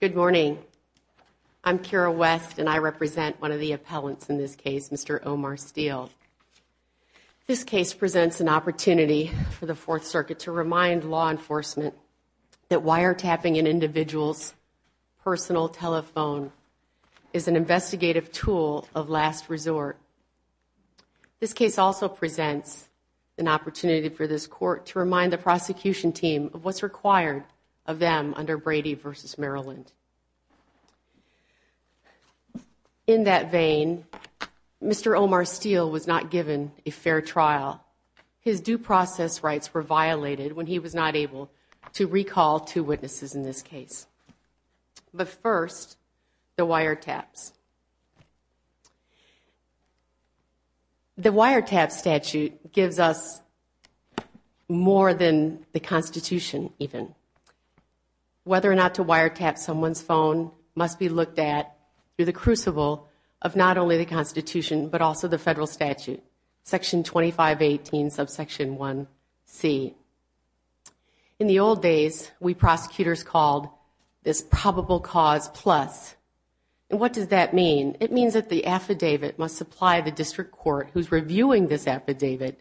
Good morning. I'm Kira West and I represent one of the appellants in this case, Mr. Omar Steele. This case presents an opportunity for the Fourth Circuit to remind law enforcement wiretapping an individual's personal telephone is an investigative tool of last resort. This case also presents an opportunity for this court to remind the prosecution team of what's required of them under Brady v. Maryland. In that vein, Mr. Omar Steele was not given a fair trial. His due process rights were violated when he was not able to recall two witnesses in this case. But first, the wiretaps. The wiretap statute gives us more than the Constitution even. Whether or not to wiretap someone's phone must be looked at through the crucible of not only the Constitution but also the federal statute, section 2518 subsection 1c. In the old days, we prosecutors called this probable cause plus. What does that mean? It means that the affidavit must supply the district court who's reviewing this affidavit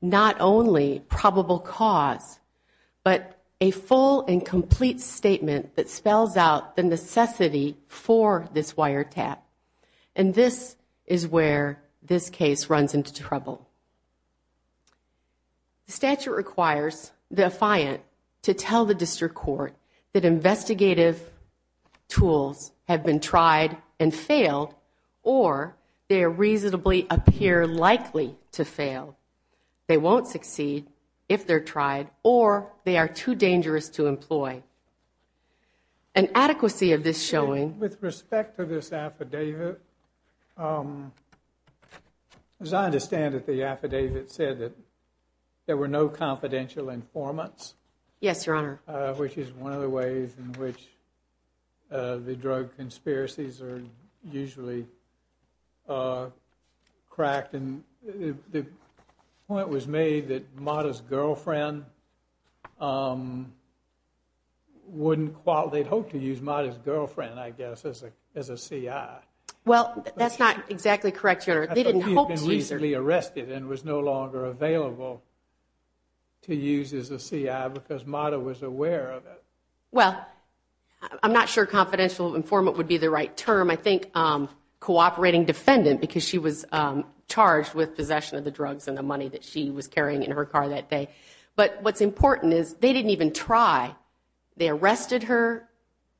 not only probable cause but a full and complete statement that spells out the necessity for this wiretap. And this is where this case runs into trouble. The statute requires the defiant to tell the district court that investigative tools have been tried and failed or they reasonably appear likely to fail. They won't succeed if they're tried or they are too dangerous to employ. An adequacy of this showing... With respect to this affidavit, as I understand it, the affidavit said that there were no confidential informants. Yes, Your Honor. Which is one of the ways in which the drug conspiracies are usually cracked. And the point was made that Mata's girlfriend wouldn't... well, they'd hoped to use Mata's girlfriend, I guess, as a CI. Well, that's not exactly correct, Your Honor. They didn't hope to use her. I thought we had been recently arrested and was no longer available to use as a CI because Mata was aware of it. Well, I'm not sure confidential informant would be the right term. I think cooperating defendant because she was charged with possession of the drugs and the money that she was carrying in her car that day. But what's important is they didn't even try. They arrested her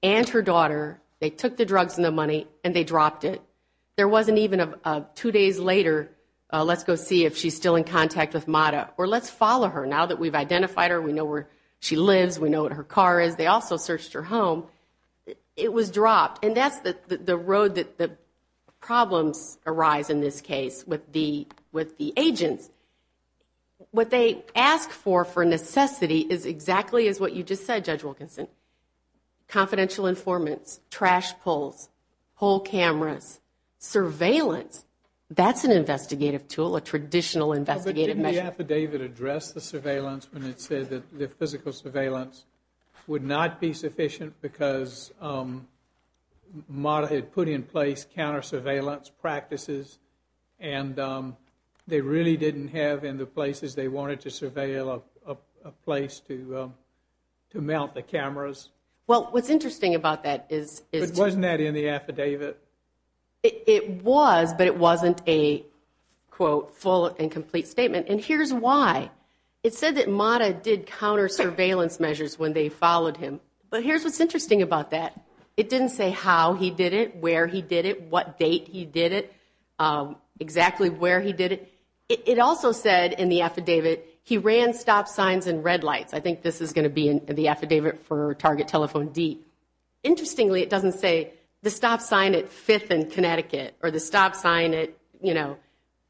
and her daughter. They took the drugs and the money and they dropped it. There wasn't even a two days later, let's go see if she's still in contact with Mata or let's follow her. Now that we've identified her, we know where she lives, we know what her car is. They also searched her home. It was dropped. And that's the road that the problems arise in this case with the agents. What they ask for, for necessity, is exactly as what you just said, Judge Wilkinson. Confidential informants, trash pulls, whole cameras, surveillance. That's an investigative tool, a traditional investigative measure. But didn't the affidavit address the surveillance when it said that the physical surveillance would not be sufficient because Mata had put in place counter-surveillance practices and they really didn't have in the places they wanted to surveil a place to mount the cameras? Well, what's interesting about that is... But wasn't that in the affidavit? It was, but it wasn't a, quote, full and complete statement. And here's why. It said that Mata did counter-surveillance measures when they followed him. But here's what's interesting about that. It didn't say how he did it, where he did it, what date he did it, exactly where he did it. It also said in the affidavit, he ran stop signs and red lights. I think this is going to be in the affidavit for Target Telephone Deep. Interestingly, it doesn't say the stop sign at 5th and Connecticut or the stop sign at, you know,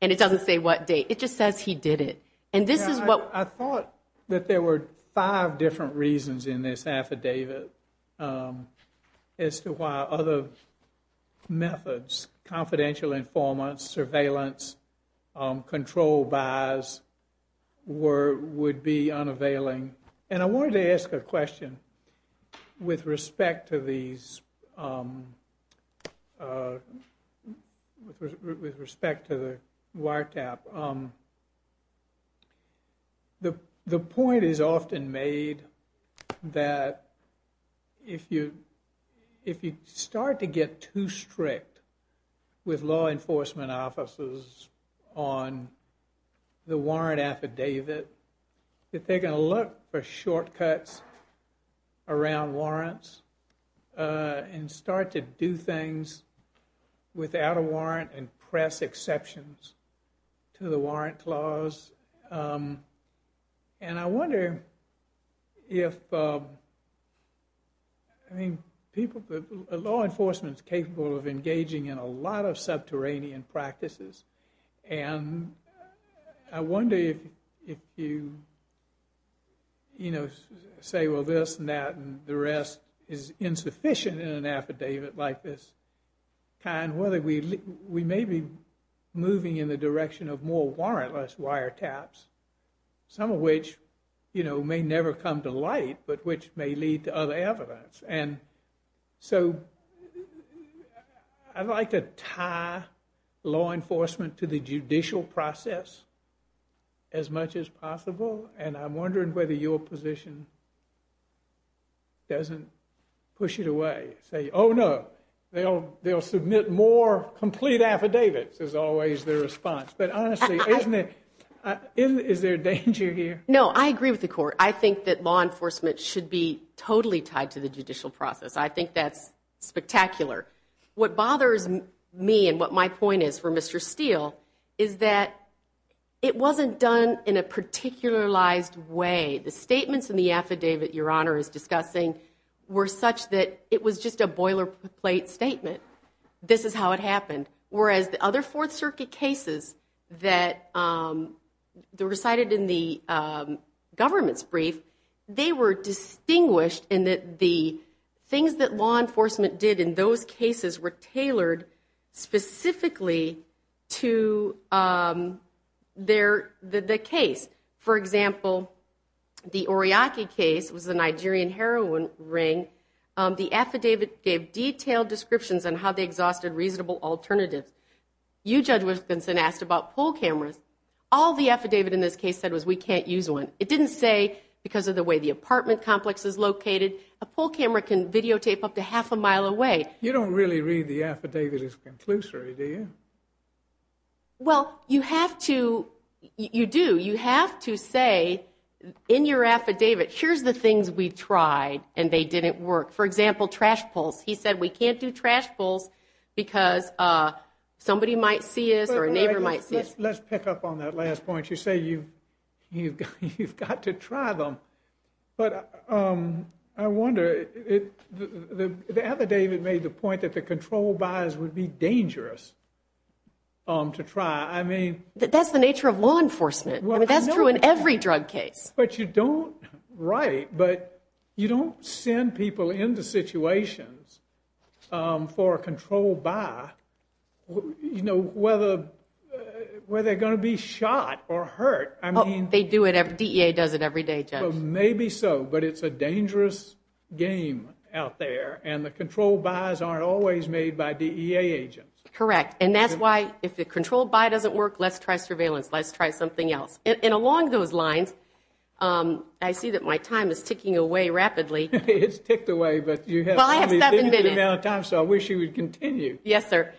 and it doesn't say what date. It just says he did it. And this is what... I thought that there were five different reasons in this affidavit as to why other methods, confidential informants, surveillance, control buys, would be unavailing. And I wanted to ask a question with respect to these... With respect to the wiretap. The point is often made that if you start to get too strict with law enforcement officers on the warrant affidavit, that they're going to look for shortcuts around warrants and start to do things without a warrant and press exceptions to the warrant clause. And I wonder if... I mean, people... Law enforcement's capable of engaging in a lot of subterranean practices and I wonder if you, you know, say, well, this and that and the rest is insufficient in an affidavit like this. And whether we may be moving in the direction of more warrantless wiretaps, some of which, you know, may never come to light, but which may lead to other evidence. And so, I'd like to tie law enforcement to the judicial process as much as possible, and I'm wondering whether your position doesn't push it away. Say, oh no, they'll submit more complete affidavits, is always their response. But honestly, isn't it... Is there danger here? No, I agree with the court. I think that law enforcement should be totally tied to the judicial process. I think that's spectacular. What bothers me and what my point is for Mr. Steele is that it wasn't done in a particularized way. The statements in the affidavit your honor is discussing were such that it was just a boilerplate statement. This is how it happened. Whereas the other Fourth Circuit cases that recited in the government's brief, they were distinguished in that the things that law enforcement did in those cases were tailored specifically to the case. For example, the Oriaki case was the Nigerian heroin ring. The affidavit gave detailed descriptions on how they exhausted reasonable alternatives. You, Judge Wilkinson, asked about poll cameras. All the affidavit in this case said was, we can't use one. It didn't say, because of the way the apartment complex is located, a poll camera can videotape up to half a mile away. You don't really read the affidavit as conclusory, do you? Well, you have to... You do. You have to say in your affidavit, here's the things we tried and they didn't work. For example, trash pulls. He said, we can't do trash pulls because somebody might see us or a neighbor might see us. Let's pick up on that last point. You say you've got to try them. But I wonder, the affidavit made the point that the control buys would be dangerous to try. I mean... That's the nature of law enforcement. That's true in every drug case. But you don't... Right. But you don't send people into situations for a control buy, you know, whether they're going to be shot or hurt. I mean... They do it every... DEA does it every day, Judge. Maybe so. But it's a dangerous game out there. And the control buys aren't always made by DEA agents. Correct. And that's why, if the control buy doesn't work, let's try surveillance. Let's try something else. And along those lines, I see that my time is ticking away rapidly. It's ticked away, but you have... Well, I have seven minutes. ...the amount of time, so I wish you would continue. Yes, sir.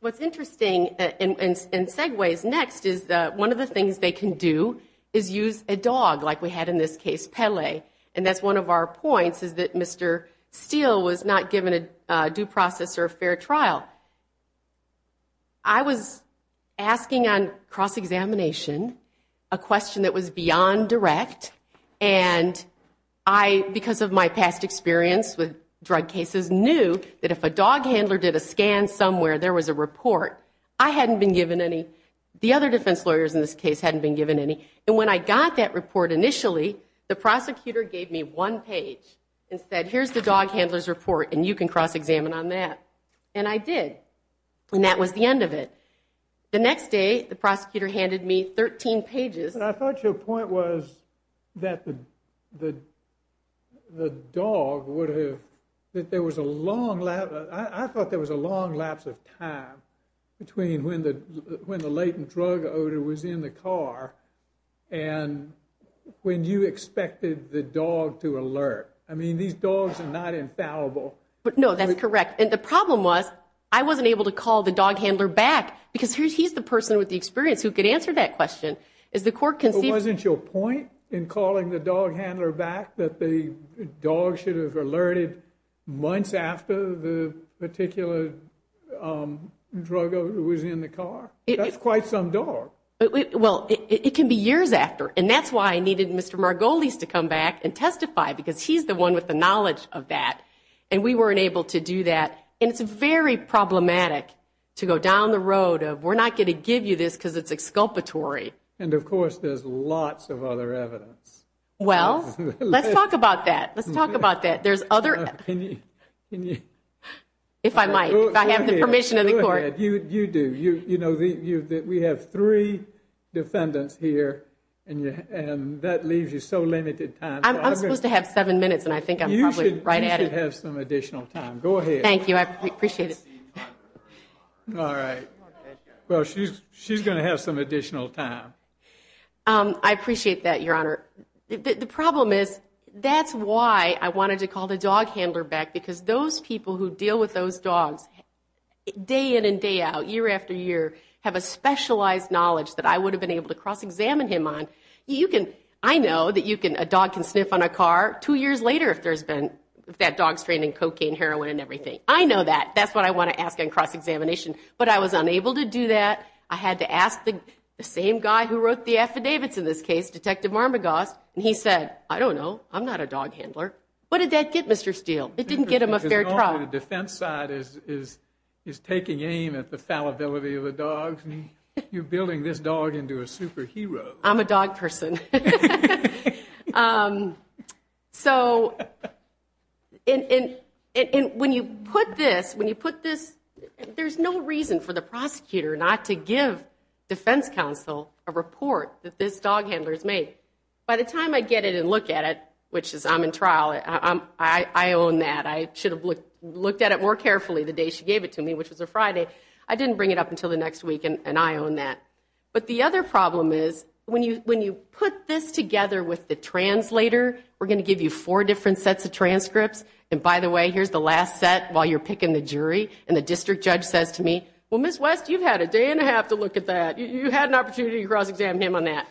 What's interesting in segues next is that one of the things they can do is use a dog, like we had in this case, Pele. And that's one of our points, is that Mr. Steele was not given a due process or a fair trial. I was asking on cross-examination a question that was beyond direct. And I, because of my past experience with drug cases, knew that if a dog handler did a scan somewhere, there was a report. I hadn't been given any. The other defense lawyers in this case hadn't been given any. And when I got that report initially, the prosecutor gave me one page and said, here's the dog handler's report, and you can cross-examine on that. And I did. And that was the end of it. The next day, the prosecutor handed me 13 pages. But I thought your point was that the dog would have... that there was a long... I thought there was a long lapse of time between when the latent drug odor was in the car and when you expected the dog to alert. I mean, these dogs are not infallible. But no, that's correct. And the problem was, I wasn't able to call the dog handler back, because he's the person with the experience who could answer that question. Is the court conceived... But wasn't your point in calling the dog handler back that the dog should have alerted months after the particular drug odor was in the car? That's quite some dog. Well, it can be years after. And that's why I needed Mr. Margolis to come back and testify, because he's the one with the knowledge of that. And we weren't able to do that. And it's very problematic to go down the road of, we're not going to give you this because it's exculpatory. And of course, there's lots of other evidence. Well, let's talk about that. Let's talk about that. There's other... Can you... If I might, if I have the permission of the court. You do. You know, we have three defendants here, and that leaves you so limited time. I'm supposed to have seven minutes, and I think I'm probably right at it. You should have some additional time. Go ahead. Thank you. I appreciate it. All right. Well, she's going to have some additional time. I appreciate that, Your Honor. The problem is, that's why I wanted to call the dog handler back, because those people who deal with those dogs day in and day out, year after year, have a specialized knowledge that I would have been able to cross-examine him on. I know that you can... A dog can sniff on a car two years later if there's been... That dog's trained in cocaine, heroin, and everything. I know that. That's what I want to ask on cross-examination. But I was unable to do that. I had to ask the same guy who wrote the affidavits in this case, Detective Marmegos, and he said, I don't know. I'm not a dog handler. What did that get Mr. Steele? It didn't get him a fair trial. The defense side is taking aim at the fallibility of the dog. You're building this dog into a superhero. I'm a dog person. So, when you put this, there's no reason for the prosecutor not to give defense counsel a report that this dog handler's made. By the time I get it and look at it, which is, I'm in trial, I own that. I should have looked at it more carefully the day she gave it to me, which was a Friday. I didn't bring it up until the next week, and I own that. But the other problem is, when you put this together with the translator, we're going to give you four different sets of transcripts. And by the way, here's the last set while you're picking the jury. And the district judge says to me, well, Ms. West, you've had a day and a half to look at that. You had an opportunity to cross-examine him on that.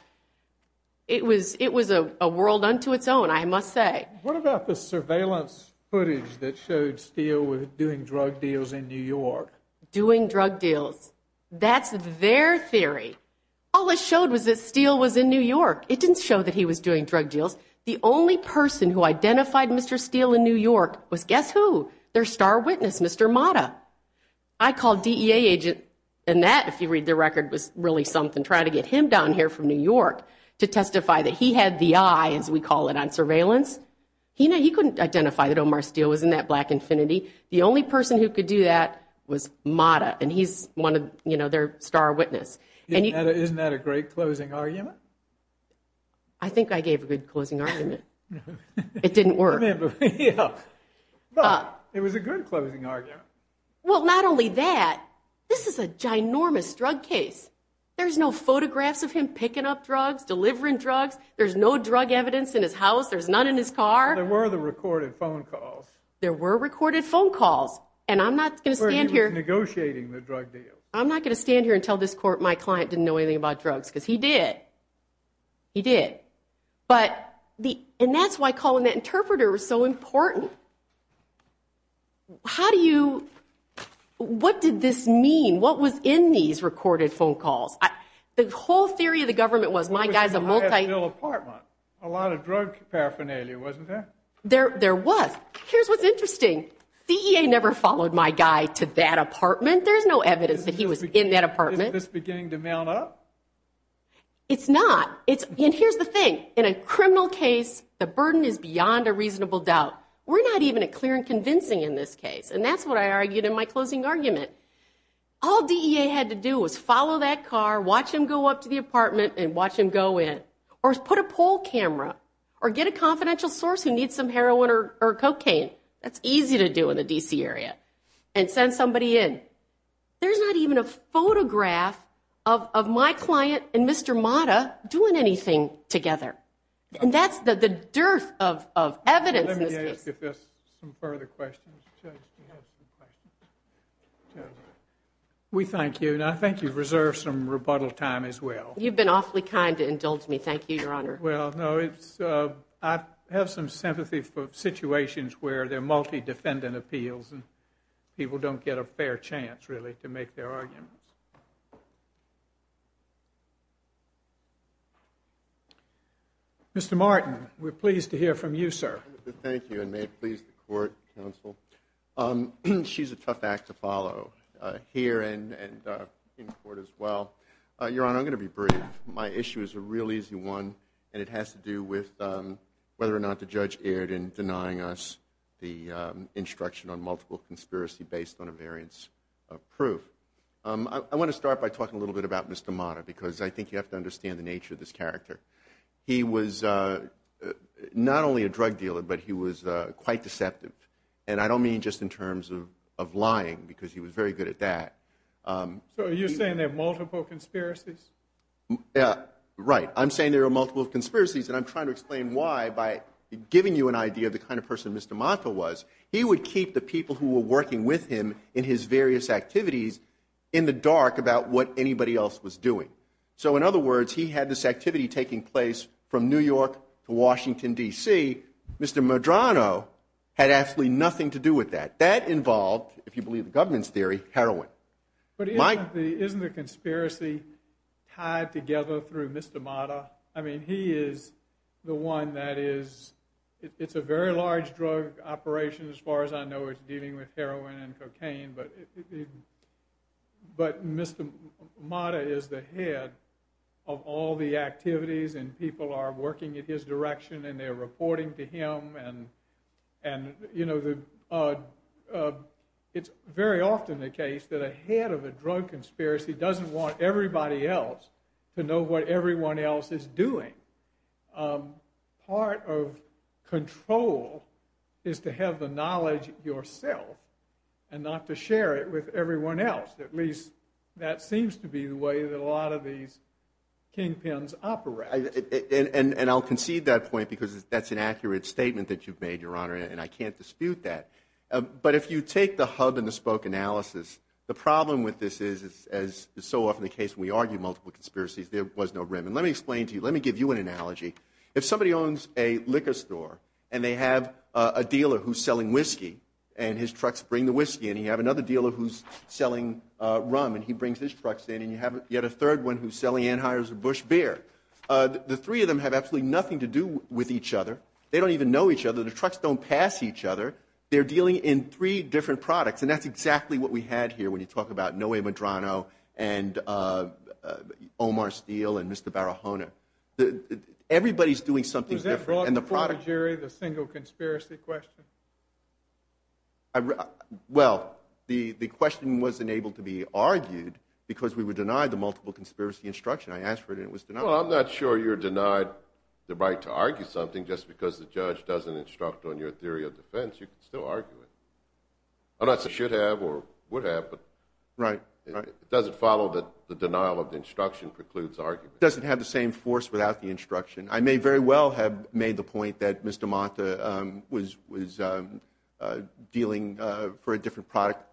It was a world unto its own, I must say. What about the surveillance footage that showed Steele doing drug deals in New York? Doing drug deals. That's their theory. All it showed was that Steele was in New York. It didn't show that he was doing drug deals. The only person who identified Mr. Steele in New York was, guess who? Their star witness, Mr. Mata. I called DEA agent, and that, if you read the record, was really something, trying to get him down here from New York to testify that he had the eye, as we call it, on surveillance. He couldn't identify that Omar Steele was in that Black Infinity. The only person who could do that was Mata. And he's one of, you know, their star witness. Isn't that a great closing argument? I think I gave a good closing argument. It didn't work. It was a good closing argument. Well, not only that, this is a ginormous drug case. There's no photographs of him picking up drugs, delivering drugs. There's no drug evidence in his house. There's none in his car. There were the recorded phone calls. There were recorded phone calls. And I'm not going to stand here. Negotiating the drug deal. I'm not going to stand here and tell this court my client didn't know anything about drugs, because he did. He did. But the, and that's why calling that interpreter was so important. How do you, what did this mean? What was in these recorded phone calls? The whole theory of the government was, my guy's a multi- A lot of drug paraphernalia, wasn't there? There was. Here's what's interesting. DEA never followed my guy to that apartment. There's no evidence that he was in that apartment. Isn't this beginning to mount up? It's not. It's, and here's the thing. In a criminal case, the burden is beyond a reasonable doubt. We're not even clear and convincing in this case. And that's what I argued in my closing argument. All DEA had to do was follow that car, watch him go up to the apartment and watch him go in. Or put a poll camera. Or get a confidential source who needs some heroin or cocaine. That's easy to do in the D.C. area. And send somebody in. There's not even a photograph of my client and Mr. Mata doing anything together. And that's the dearth of evidence in this case. Let me ask if there's some further questions. We thank you. And I think you've reserved some rebuttal time as well. You've been awfully kind to indulge me. Thank you, Your Honor. Well, no, it's, I have some sympathy for situations where they're multi-defendant appeals. And people don't get a fair chance, really, to make their arguments. Mr. Martin, we're pleased to hear from you, sir. Thank you. And may it please the court, counsel. She's a tough act to follow. Here and in court as well. Your Honor, I'm going to be brief. My issue is a real easy one. And it has to do with whether or not the judge erred in denying us the instruction on multiple conspiracy based on a variance of proof. I want to start by talking a little bit about Mr. Mata. Because I think you have to understand the nature of this character. He was not only a drug dealer, but he was quite deceptive. And I don't mean just in terms of lying. Because he was very good at that. So you're saying there are multiple conspiracies? Right. I'm saying there are multiple conspiracies. And I'm trying to explain why by giving you an idea of the kind of person Mr. Mata was. He would keep the people who were working with him in his various activities in the dark about what anybody else was doing. So in other words, he had this activity taking place from New York to Washington, D.C. Mr. Medrano had absolutely nothing to do with that. That involved, if you believe the government's theory, heroin. But isn't the conspiracy tied together through Mr. Mata? I mean, he is the one that is... It's a very large drug operation as far as I know. It's dealing with heroin and cocaine. But Mr. Mata is the head of all the activities. And people are working in his direction. And they're reporting to him. And it's very often the case that a head of a drug conspiracy doesn't want everybody else to know what everyone else is doing. Part of control is to have the knowledge yourself and not to share it with everyone else. At least that seems to be the way that a lot of these kingpins operate. And I'll concede that point because that's an accurate statement. And I can't dispute that. But if you take the hub-and-the-spoke analysis, the problem with this is, as is so often the case when we argue multiple conspiracies, there was no rim. And let me explain to you. Let me give you an analogy. If somebody owns a liquor store and they have a dealer who's selling whiskey and his trucks bring the whiskey. And you have another dealer who's selling rum and he brings his trucks in. And you have yet a third one who's selling Anheuser-Busch beer. The three of them have absolutely nothing to do with each other. They don't even know each other. The trucks don't pass each other. They're dealing in three different products. And that's exactly what we had here when you talk about Noé Medrano and Omar Steele and Mr. Barahona. Everybody's doing something different. Was that brought before the jury, the single conspiracy question? Well, the question wasn't able to be argued because we were denied the multiple conspiracy instruction. I asked for it and it was denied. I'm not sure you're denied the right to argue something just because the judge doesn't instruct on your theory of defense. You can still argue it. I'm not saying you should have or would have. But it doesn't follow that the denial of the instruction precludes argument. Doesn't have the same force without the instruction. I may very well have made the point that Mr. Mata was dealing for a different product.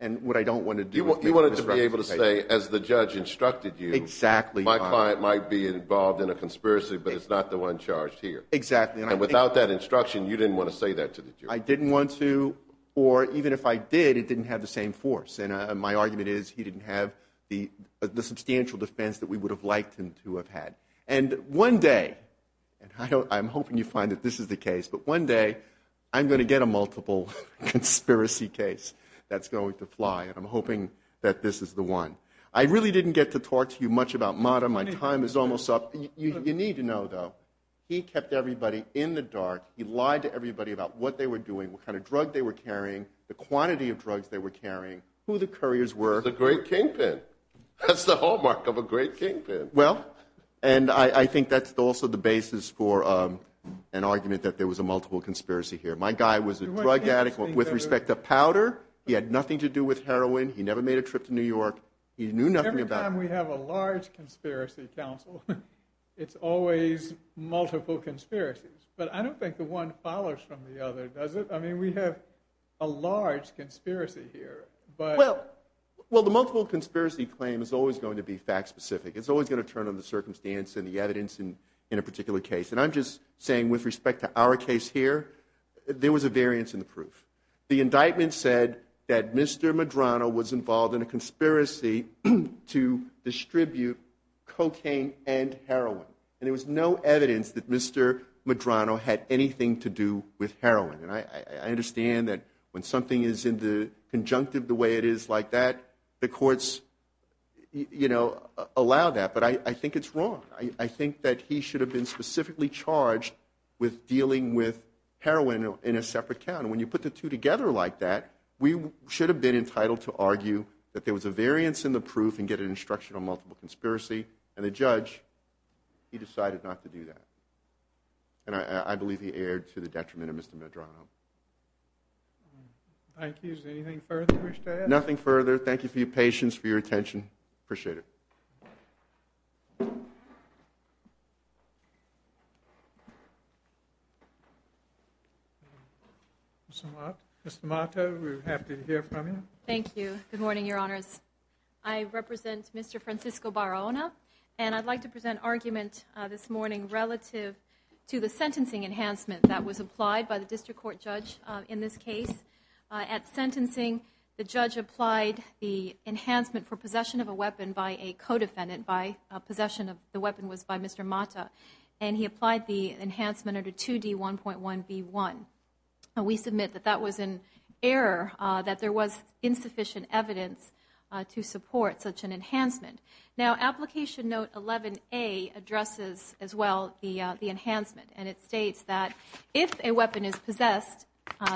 And what I don't want to do is make a misrepresentation. You wanted to be able to say as the judge instructed you. Exactly. My client might be involved in a conspiracy, but it's not the one charged here. Exactly. And without that instruction, you didn't want to say that to the jury. I didn't want to, or even if I did, it didn't have the same force. And my argument is he didn't have the substantial defense that we would have liked him to have had. And one day, and I'm hoping you find that this is the case, but one day I'm going to get a multiple conspiracy case that's going to fly. And I'm hoping that this is the one. I really didn't get to talk to you much about Mata. My time is almost up. You need to know, though, he kept everybody in the dark. He lied to everybody about what they were doing, what kind of drug they were carrying, the quantity of drugs they were carrying, who the couriers were. The great kingpin. That's the hallmark of a great kingpin. Well, and I think that's also the basis for an argument that there was a multiple conspiracy here. My guy was a drug addict with respect to powder. He had nothing to do with heroin. He never made a trip to New York. He knew nothing about- Every time we have a large conspiracy council, it's always multiple conspiracies. But I don't think the one follows from the other, does it? I mean, we have a large conspiracy here, but- Well, well, the multiple conspiracy claim is always going to be fact specific. It's always going to turn on the circumstance and the evidence in a particular case. there was a variance in the proof. The indictment said that Mr. Medrano was involved in a conspiracy to distribute cocaine and heroin. And there was no evidence that Mr. Medrano had anything to do with heroin. And I understand that when something is in the conjunctive the way it is like that, the courts allow that. But I think it's wrong. I think that he should have been specifically charged with dealing with heroin in a separate count. When you put the two together like that, we should have been entitled to argue that there was a variance in the proof and get an instruction on multiple conspiracy. And the judge, he decided not to do that. And I believe he erred to the detriment of Mr. Medrano. Thank you. Is there anything further you wish to add? Nothing further. Thank you for your patience, for your attention. Appreciate it. Mr. Mata, we're happy to hear from you. Thank you. Good morning, Your Honors. I represent Mr. Francisco Barona. And I'd like to present argument this morning relative to the sentencing enhancement that was applied by the district court judge in this case. At sentencing, the judge applied the enhancement for possession of a weapon by a co-defendant by possession of the weapon was by Mr. Mata. And he applied the enhancement under 2D1.1B1. We submit that that was an error, that there was insufficient evidence to support such an enhancement. Now, application note 11A addresses as well the enhancement. And it states that if a weapon is possessed,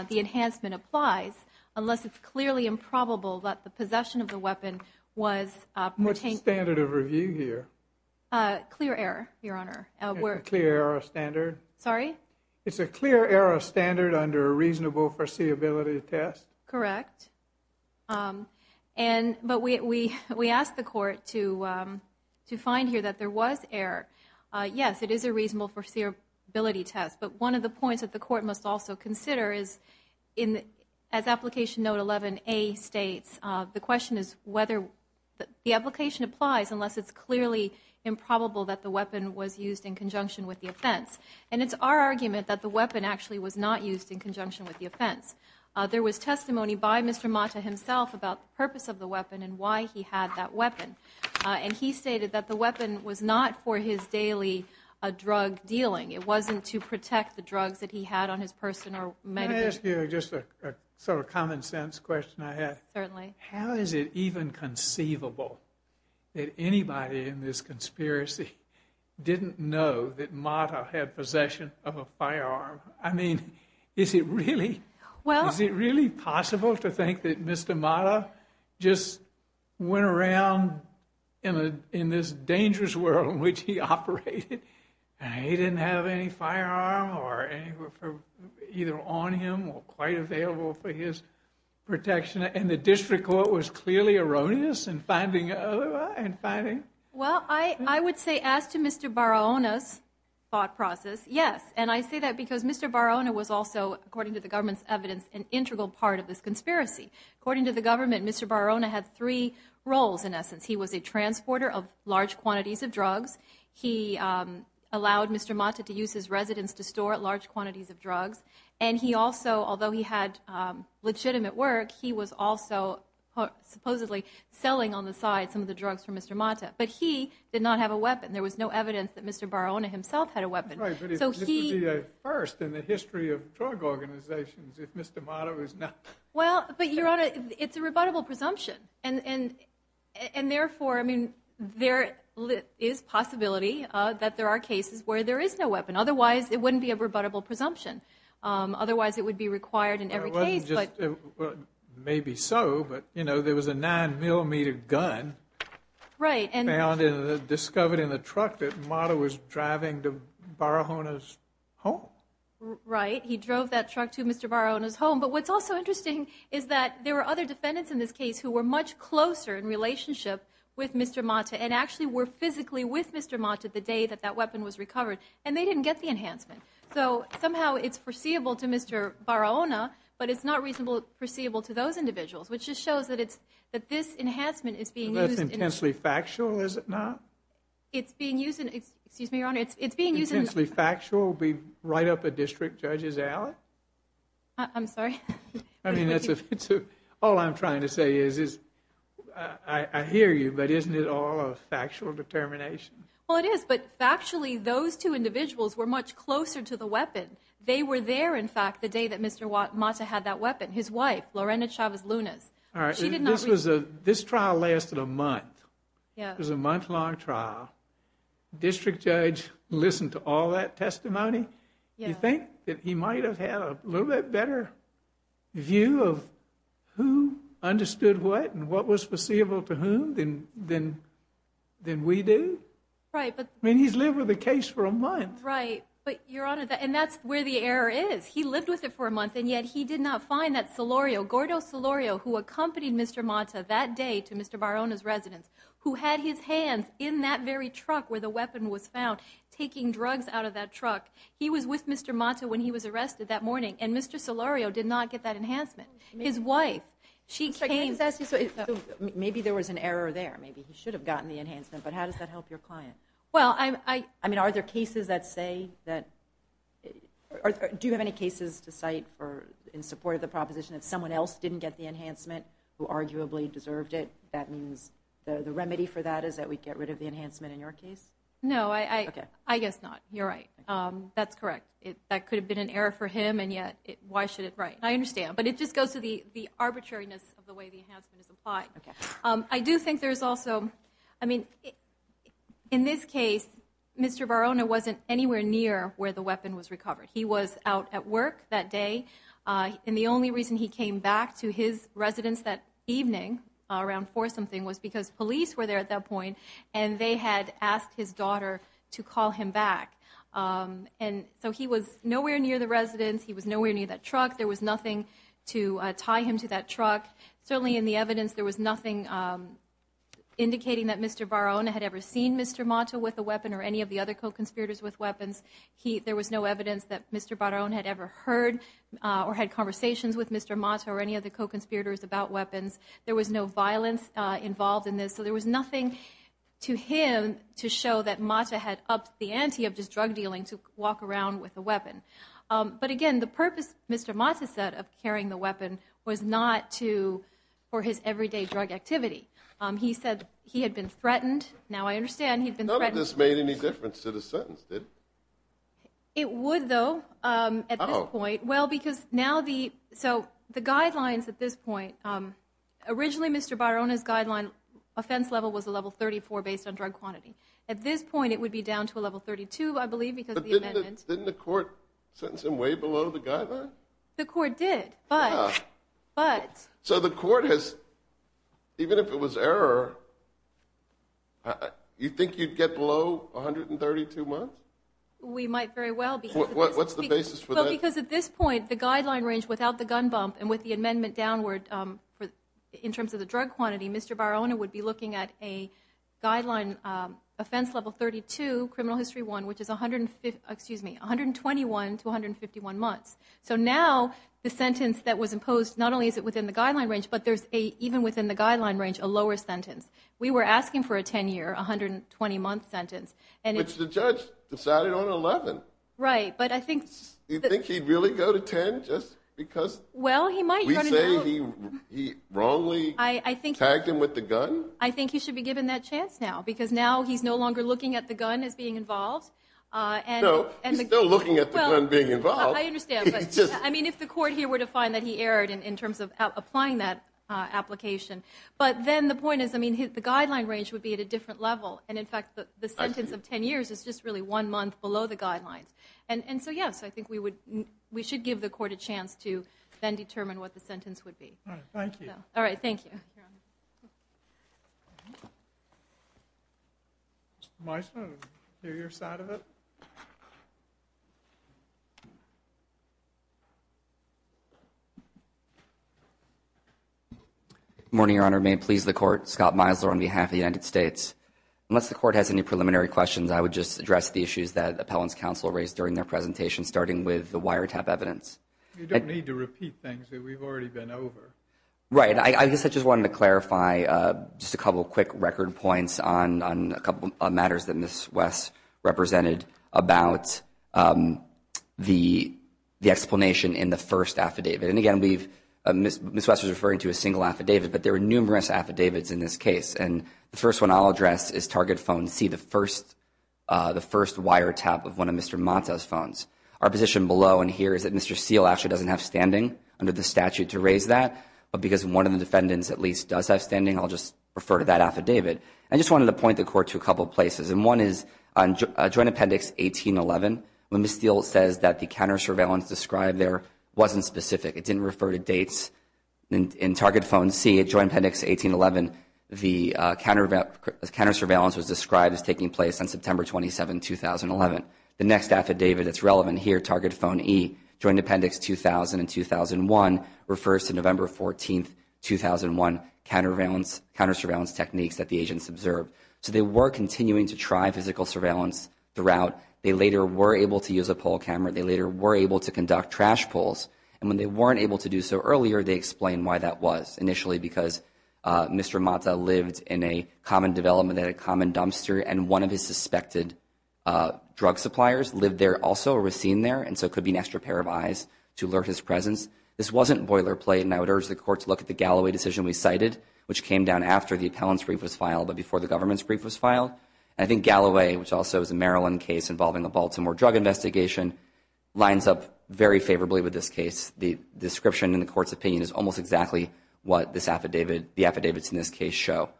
the enhancement applies unless it's clearly improbable that the possession of the weapon was pertained- What's the standard of review here? Clear error, Your Honor. Clear error standard? Sorry? It's a clear error standard under a reasonable foreseeability test. Correct. But we asked the court to find here that there was error. Yes, it is a reasonable foreseeability test. But one of the points that the court must also consider is, as application note 11A states, the question is whether the application applies unless it's clearly improbable that the weapon was used in conjunction with the offense. And it's our argument that the weapon actually was not used in conjunction with the offense. There was testimony by Mr. Mata himself about the purpose of the weapon and why he had that weapon. And he stated that the weapon was not for his daily drug dealing. It wasn't to protect the drugs that he had on his person or medical- Can I ask you just a sort of common sense question I had? Certainly. How is it even conceivable that anybody in this conspiracy didn't know that Mata had possession of a firearm? I mean, is it really possible to think that Mr. Mata just went around in this dangerous world in which he operated and he didn't have any firearm either on him or quite available for his protection? And the district court was clearly erroneous in finding- Well, I would say as to Mr. Barrona's thought process, yes. And I say that because Mr. Barrona was also, according to the government's evidence, an integral part of this conspiracy. According to the government, Mr. Barrona had three roles in essence. He was a transporter of large quantities of drugs. He allowed Mr. Mata to use his residence to store large quantities of drugs. And he also, although he had legitimate work, he was also supposedly selling on the side some of the drugs from Mr. Mata. But he did not have a weapon. There was no evidence that Mr. Barrona himself had a weapon. Right, but this would be a first in the history of drug organizations if Mr. Mata was not. Well, but Your Honor, it's a rebuttable presumption. And therefore, I mean, there is possibility that there are cases where there is no weapon. Otherwise, it wouldn't be a rebuttable presumption. Otherwise, it would be required in every case. Well, maybe so. But you know, there was a nine millimeter gun. Right. And found and discovered in the truck that Mata was driving to Barrona's home. Right. He drove that truck to Mr. Barrona's home. But what's also interesting is that there were other defendants in this case who were much closer in relationship with Mr. Mata and actually were physically with Mr. Mata the day that that weapon was recovered. And they didn't get the enhancement. So somehow it's foreseeable to Mr. Barrona. But it's not reasonable, foreseeable to those individuals, which just shows that it's that this enhancement is being used. That's intensely factual, is it not? It's being used. And excuse me, Your Honor, it's being used. Intensely factual? Be right up a district judge's alley? I'm sorry. I mean, that's if it's all I'm trying to say is, is I hear you, but isn't it all a factual determination? Well, it is. But factually, those two individuals were much closer to the weapon. They were there, in fact, the day that Mr. Mata had that weapon. His wife, Lorena Chavez Lunas. All right, this trial lasted a month. Yeah. It was a month-long trial. District judge listened to all that testimony. You think that he might have had a little bit better view of who understood what and what was foreseeable to whom than we do? Right. I mean, he's lived with the case for a month. Right. But, Your Honor, and that's where the error is. He lived with it for a month, and yet he did not find that Solorio, Gordo Solorio, who accompanied Mr. Mata that day to Mr. Barona's residence, who had his hands in that very truck where the weapon was found, taking drugs out of that truck. He was with Mr. Mata when he was arrested that morning, and Mr. Solorio did not get that enhancement. His wife, she came... So, maybe there was an error there. Maybe he should have gotten the enhancement. But how does that help your client? Well, I... I mean, are there cases that say that... Do you have any cases to cite in support of the proposition if someone else didn't get the enhancement who arguably deserved it, that means the remedy for that is that we get rid of the enhancement in your case? No, I guess not. You're right. That's correct. That could have been an error for him, and yet why should it... Right. I understand. But it just goes to the arbitrariness of the way the enhancement is applied. Okay. I do think there's also... I mean, in this case, Mr. Barona wasn't anywhere near where the weapon was recovered. He was out at work that day, and the only reason he came back to his residence that evening around 4 something was because police were there at that point, and they had asked his daughter to call him back. And so, he was nowhere near the residence. He was nowhere near that truck. There was nothing to tie him to that truck. Certainly, in the evidence, there was nothing indicating that Mr. Barona had ever seen Mr. Mata with a weapon or any of the other co-conspirators with weapons. There was no evidence that Mr. Barona had ever heard or had conversations with Mr. Mata or any of the co-conspirators about weapons. There was no violence involved in this, so there was nothing to him to show that Mata had upped the ante of just drug dealing to walk around with a weapon. But again, the purpose Mr. Mata set of carrying the weapon was not for his everyday drug activity. He said he had been threatened. Now, I understand he'd been threatened. None of this made any difference to the sentence, did it? It would, though, at this point. Well, because now the... So, the guidelines at this point... Originally, Mr. Barona's guideline offense level was a level 34 based on drug quantity. At this point, it would be down to a level 32, I believe, because of the amendment. Didn't the court sentence him way below the guideline? The court did, but... So, the court has... Even if it was error, you think you'd get below 132 months? We might very well, because... What's the basis for that? Well, because at this point, the guideline range without the gun bump and with the amendment downward in terms of the drug quantity, Mr. Barona would be looking at a guideline offense level 32, criminal history one, which is 121 to 151 months. So now, the sentence that was imposed, not only is it within the guideline range, but there's a, even within the guideline range, a lower sentence. We were asking for a 10-year, 120-month sentence, and... Which the judge decided on 11. Right, but I think... You think he'd really go to 10 just because... Well, he might... We say he wrongly tagged him with the gun? I think he should be given that chance now, because now he's no longer looking at the gun as being involved. No, he's still looking at the gun being involved. I understand. I mean, if the court here were to find that he erred in terms of applying that application. But then the point is, I mean, the guideline range would be at a different level. And in fact, the sentence of 10 years is just really one month below the guidelines. And so, yes, I think we should give the court a chance to then determine what the sentence would be. All right, thank you. All right, thank you. Your Honor, may I please the court? Scott Meisler on behalf of the United States. Unless the court has any preliminary questions, I would just address the issues that Appellant's counsel raised during their presentation, starting with the wiretap evidence. You don't need to repeat things. We've already been over. Right, I guess I just wanted to clarify just a couple of quick record points on a couple of matters that Ms. West represented about the explanation in the first affidavit. And again, Ms. West was referring to a single affidavit, but there are numerous affidavits in this case. And the first one I'll address is Target Phone C, the first wiretap of one of Mr. Monto's phones. Our position below and here is that Mr. Seale actually doesn't have standing under the statute to raise that. But because one of the defendants at least does have standing, I'll just refer to that affidavit. I just wanted to point the court to a couple of places. And one is on Joint Appendix 1811, when Ms. Seale says that the counter-surveillance described there wasn't specific. It didn't refer to dates. In Target Phone C, Joint Appendix 1811, the counter-surveillance was described as taking place on September 27, 2011. The next affidavit that's relevant here, Target Phone E, Joint Appendix 2000 and 2001, refers to November 14, 2001, counter-surveillance techniques that the agents observed. So they were continuing to try physical surveillance throughout. They later were able to use a poll camera. They later were able to conduct trash pulls. And when they weren't able to do so earlier, they explained why that was. Initially, because Mr. Monto lived in a common development at a common dumpster, and one of his suspected drug suppliers lived there also or was seen there. And so it could be an extra pair of eyes to alert his presence. This wasn't boilerplate. And I would urge the court to look at the Galloway decision we cited, which came down after the appellant's brief was filed, but before the government's brief was filed. I think Galloway, which also is a Maryland case involving a Baltimore drug investigation, lines up very favorably with this case. The description in the court's opinion is almost exactly what the affidavits in this case show.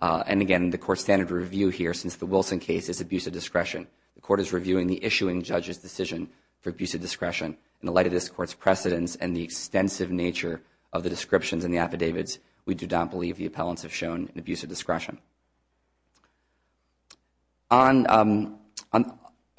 And again, the court's standard review here, since the Wilson case, is abuse of discretion. The court is reviewing the issuing judge's decision for abuse of discretion. In the light of this court's precedents and the extensive nature of the descriptions in the affidavits, we do not believe the appellants have shown an abuse of discretion. On,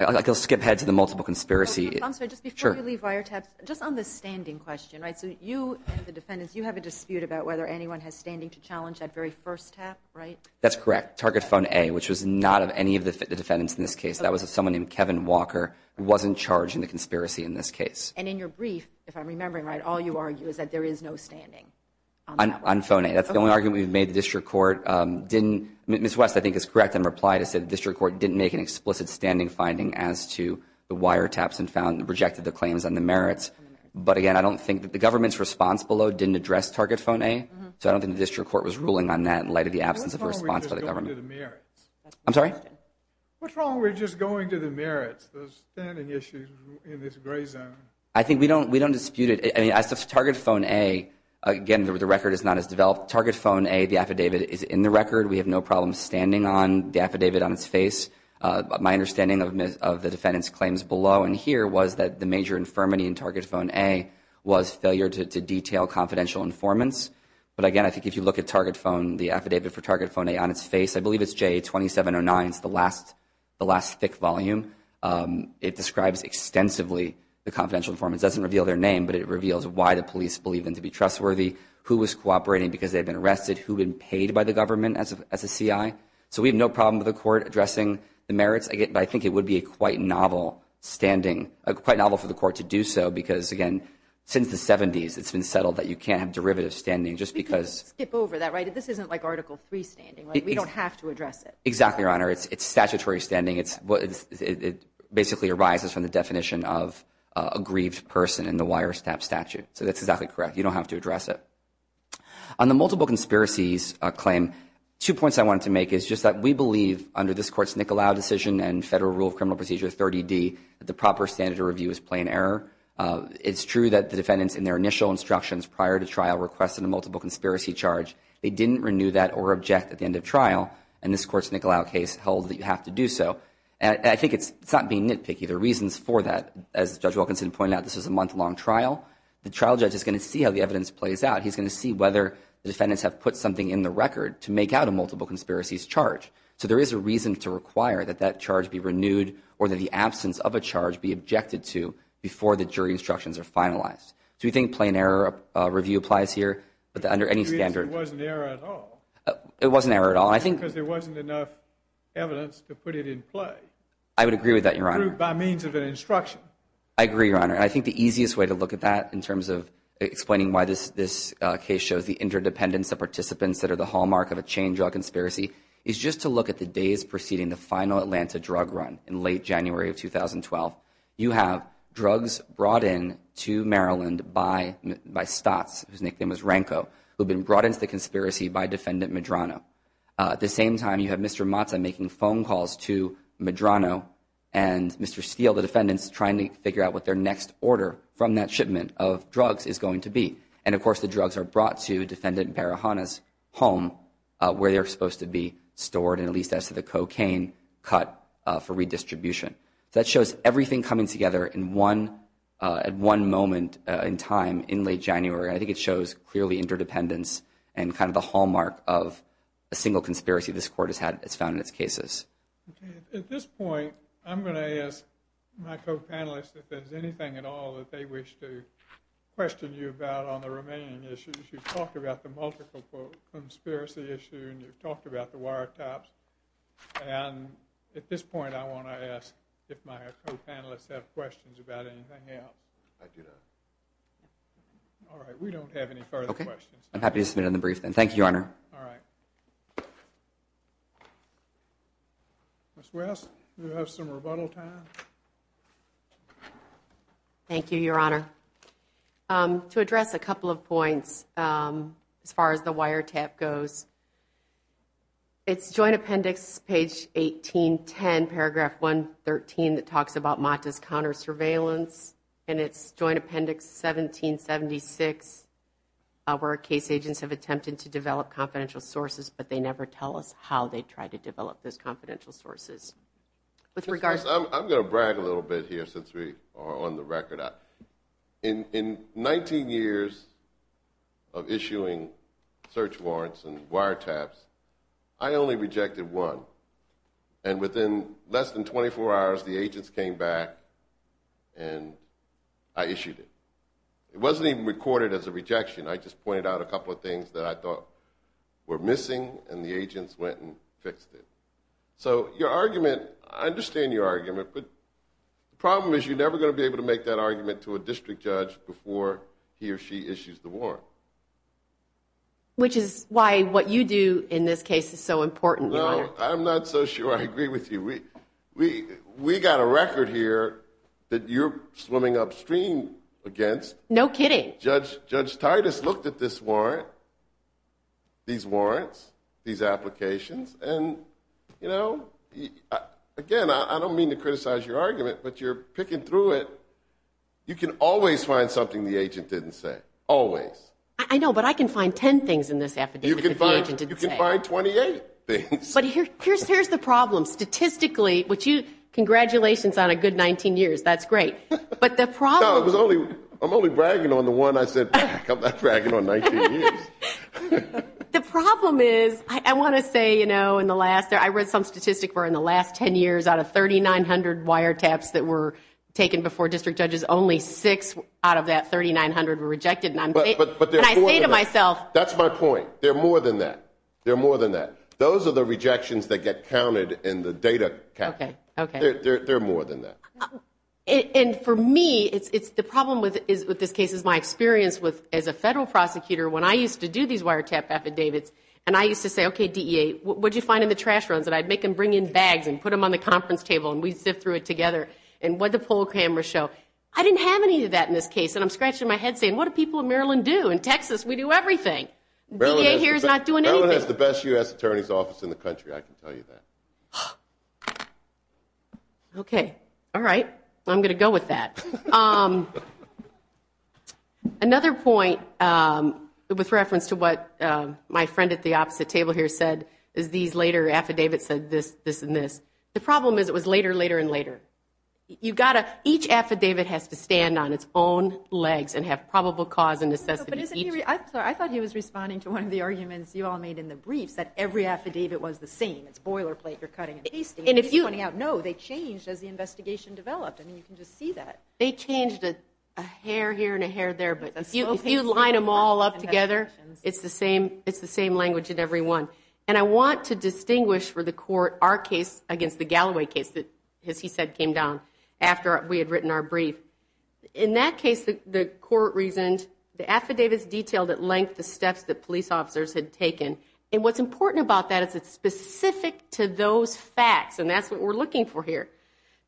I'll skip ahead to the multiple conspiracy. I'm sorry, just before you leave wiretaps, just on the standing question, right? So you, the defendants, you have a dispute about whether anyone has standing to challenge that very first tap, right? That's correct. Target Phone A, which was not of any of the defendants in this case, that was of someone named Kevin Walker, wasn't charged in the conspiracy in this case. And in your brief, if I'm remembering right, all you argue is that there is no standing. On Phone A. That's the only argument we've made. The district court didn't, Ms. West, I think is correct in reply to say the district court didn't make an explicit standing finding as to the wiretaps and found, rejected the claims and the merits. But again, I don't think that the government's response below didn't address Target Phone A. So I don't think the district court was ruling on that in light of the absence of a response by the government. I'm sorry? What's wrong with just going to the merits, those standing issues in this gray zone? I think we don't, we don't dispute it. I mean, as to Target Phone A, again, the record is not as developed. Target Phone A, the affidavit is in the record. We have no problem standing on the affidavit on its face. My understanding of the defendant's claims below and here was that the major infirmity in Target Phone A was failure to detail confidential informants. But again, I think if you look at Target Phone, the affidavit for Target Phone A on its face, I believe it's J2709. It's the last thick volume. It describes extensively the confidential informants. It doesn't reveal their name, but it reveals why the police believe them to be trustworthy, who was cooperating because they've been arrested, who had been paid by the government as a CI. So we have no problem with the court addressing the merits. I think it would be quite novel for the court to do so because again, since the 70s, it's been settled that you can't have derivative standing just because- We can skip over that, right? This isn't like Article III standing, right? We don't have to address it. Exactly, Your Honor. It's statutory standing. It basically arises from the definition of a grieved person in the wire stab statute. So that's exactly correct. You don't have to address it. On the multiple conspiracies claim, two points I wanted to make is just that we believe under this court's Nicolau decision and federal rule of criminal procedure 30D that the proper standard of review is plain error. It's true that the defendants in their initial instructions prior to trial requested a multiple conspiracy charge. They didn't renew that or object at the end of trial. And this court's Nicolau case held that you have to do so. And I think it's not being nitpicky. There are reasons for that. As Judge Wilkinson pointed out, this was a month-long trial. The trial judge is going to see how the evidence plays out. He's going to see whether the defendants have put something in the record to make out a multiple conspiracies charge. So there is a reason to require that that charge be renewed or that the absence of a charge be objected to before the jury instructions are finalized. Do you think plain error review applies here? But under any standard- It wasn't error at all. It wasn't error at all. I think- Because there wasn't enough evidence to put it in play. I would agree with that, Your Honor. By means of an instruction. I agree, Your Honor. I think the easiest way to look at that in terms of explaining why this case shows the interdependence of participants that are the hallmark of a chain drug conspiracy is just to look at the days preceding the final Atlanta drug run in late January of 2012. You have drugs brought in to Maryland by Stotts, whose nickname was Ranko, who had been brought into the conspiracy by Defendant Medrano. At the same time, you have Mr. Matza making phone calls to Medrano and Mr. Steele, the defendants, trying to figure out what their next order from that shipment of drugs is going to be. And of course, the drugs are brought to Defendant Barahana's home where they're supposed to be stored, and at least as to the cocaine cut for redistribution. That shows everything coming together in one moment in time in late January. I think it shows clearly interdependence and kind of the hallmark of a single conspiracy this court has found in its cases. At this point, I'm going to ask my co-panelists if there's anything at all that they wish to question you about on the remaining issues. You've talked about the multiple conspiracy issue, and you've talked about the wiretaps. And at this point, I want to ask if my co-panelists have questions about anything else. I do not. All right. We don't have any further questions. I'm happy to submit in the brief, then. Thank you, Your Honor. All right. Ms. West, do you have some rebuttal time? Thank you, Your Honor. To address a couple of points as far as the wiretap goes, it's Joint Appendix, page 1810, paragraph 113, that talks about MATA's counter-surveillance. And it's Joint Appendix 1776, where case agents have attempted to develop confidential sources, but they never tell us how they tried to develop those confidential sources. With regards to- Ms. West, I'm going to brag a little bit here since we are on the record. In 19 years of issuing search warrants and wiretaps, I only rejected one. And within less than 24 hours, the agents came back and I issued it. It wasn't even recorded as a rejection. I just pointed out a couple of things that I thought were missing, and the agents went and fixed it. So your argument, I understand your argument, but the problem is you're never going to be able to make that argument to a district judge before he or she issues the warrant. Which is why what you do in this case is so important. No, I'm not so sure I agree with you. We got a record here that you're swimming upstream against. No kidding. Judge Titus looked at this warrant, these warrants, these applications, and again, I don't mean to criticize your argument, but you're picking through it. You can always find something the agent didn't say, always. I know, but I can find 10 things in this affidavit. You can find 28 things. But here's the problem. Statistically, congratulations on a good 19 years. That's great. I'm only bragging on the one. I said, I'm not bragging on 19 years. The problem is, I want to say in the last, I read some statistic where in the last 10 years, out of 3,900 wiretaps that were taken before district judges, only six out of that 3,900 were rejected. And I say to myself. That's my point. There are more than that. There are more than that. Those are the rejections that get counted in the data. There are more than that. And for me, the problem with this case is my experience as a federal prosecutor. When I used to do these wiretap affidavits, and I used to say, OK, DEA, what'd you find in the trash runs? And I'd make them bring in bags and put them on the conference table. And we'd sift through it together. And what did the poll cameras show? I didn't have any of that in this case. And I'm scratching my head saying, what do people in Maryland do? In Texas, we do everything. DEA here is not doing anything. Maryland has the best US Attorney's Office in the country. I can tell you that. OK. All right. I'm going to go with that. Another point with reference to what my friend at the opposite table here said is these later affidavits said this, this, and this. The problem is it was later, later, and later. Each affidavit has to stand on its own legs and have probable cause and necessity each. I thought he was responding to one of the arguments you all made in the briefs that every affidavit was the same. It's boilerplate. You're cutting and pasting. And he's pointing out, no, they changed as the investigation developed. And you can just see that. They changed a hair here and a hair there. But if you line them all up together, it's the same language in every one. And I want to distinguish for the court our case against the Galloway case that, as he said, came down after we had written our brief. In that case, the court reasoned the affidavits detailed at length the steps that police officers had taken. And what's important about that is it's specific to those facts. And that's what we're looking for here.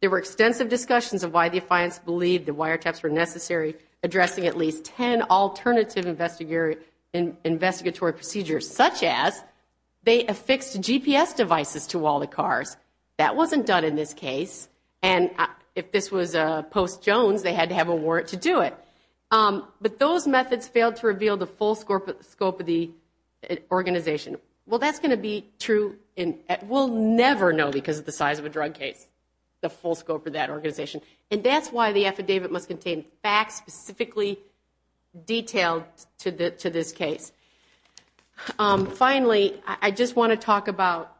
There were extensive discussions of why the defiance believed the wiretaps were necessary, addressing at least 10 alternative investigatory procedures, such as they affixed GPS devices to all the cars. That wasn't done in this case. And if this was post-Jones, they had to have a warrant to do it. But those methods failed to reveal the full scope of the organization. Well, that's going to be true. We'll never know, because of the size of a drug case, the full scope of that organization. And that's why the affidavit must contain facts specifically detailed to this case. Finally, I just want to talk about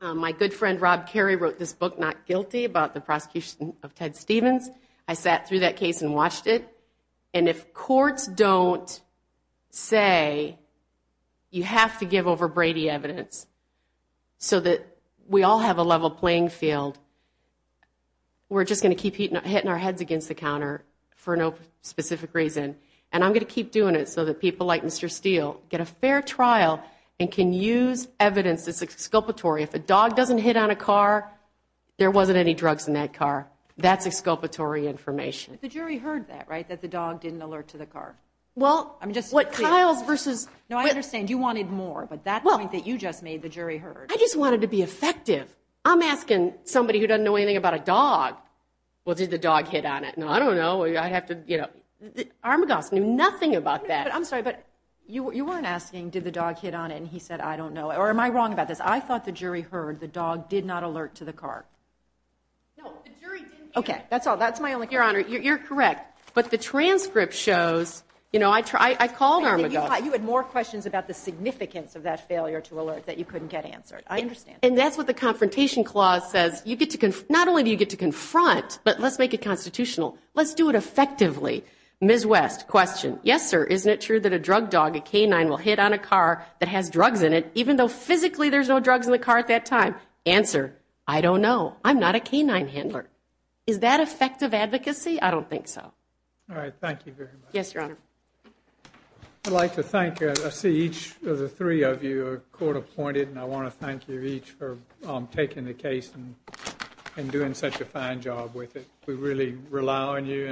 my good friend Rob Kerry wrote this book, Not Guilty, about the prosecution of Ted Stevens. I sat through that case and watched it. And if courts don't say you have to give over Brady evidence so that we all have a level playing field, we're just going to keep hitting our heads against the counter for no specific reason. And I'm going to keep doing it so that people like Mr. Steele get a fair trial and can use evidence that's exculpatory. If a dog doesn't hit on a car, there wasn't any drugs in that car. That's exculpatory information. But the jury heard that, right? That the dog didn't alert to the car. Well, what Kyle's versus... No, I understand you wanted more. But that point that you just made, the jury heard. I just wanted to be effective. I'm asking somebody who doesn't know anything about a dog, well, did the dog hit on it? No, I don't know. I'd have to, you know... Armagos knew nothing about that. I'm sorry, but you weren't asking, did the dog hit on it? And he said, I don't know. Or am I wrong about this? I thought the jury heard the dog did not alert to the car. No, the jury didn't... Okay, that's all. That's my only... Your Honor, you're correct. But the transcript shows, you know, I called Armagos... You had more questions about the significance of that failure to alert that you couldn't get answered. I understand. And that's what the confrontation clause says. Not only do you get to confront, but let's make it constitutional. Let's do it effectively. Ms. West, question. Yes, sir. Isn't it true that a drug dog, a canine, will hit on a car that has drugs in it even though physically there's no drugs in the car at that time? Answer, I don't know. I'm not a canine handler. Is that effective advocacy? I don't think so. All right. Thank you very much. Yes, Your Honor. I'd like to thank... I see each of the three of you are court appointed. And I want to thank you each for taking the case and doing such a fine job with it. We really rely on you.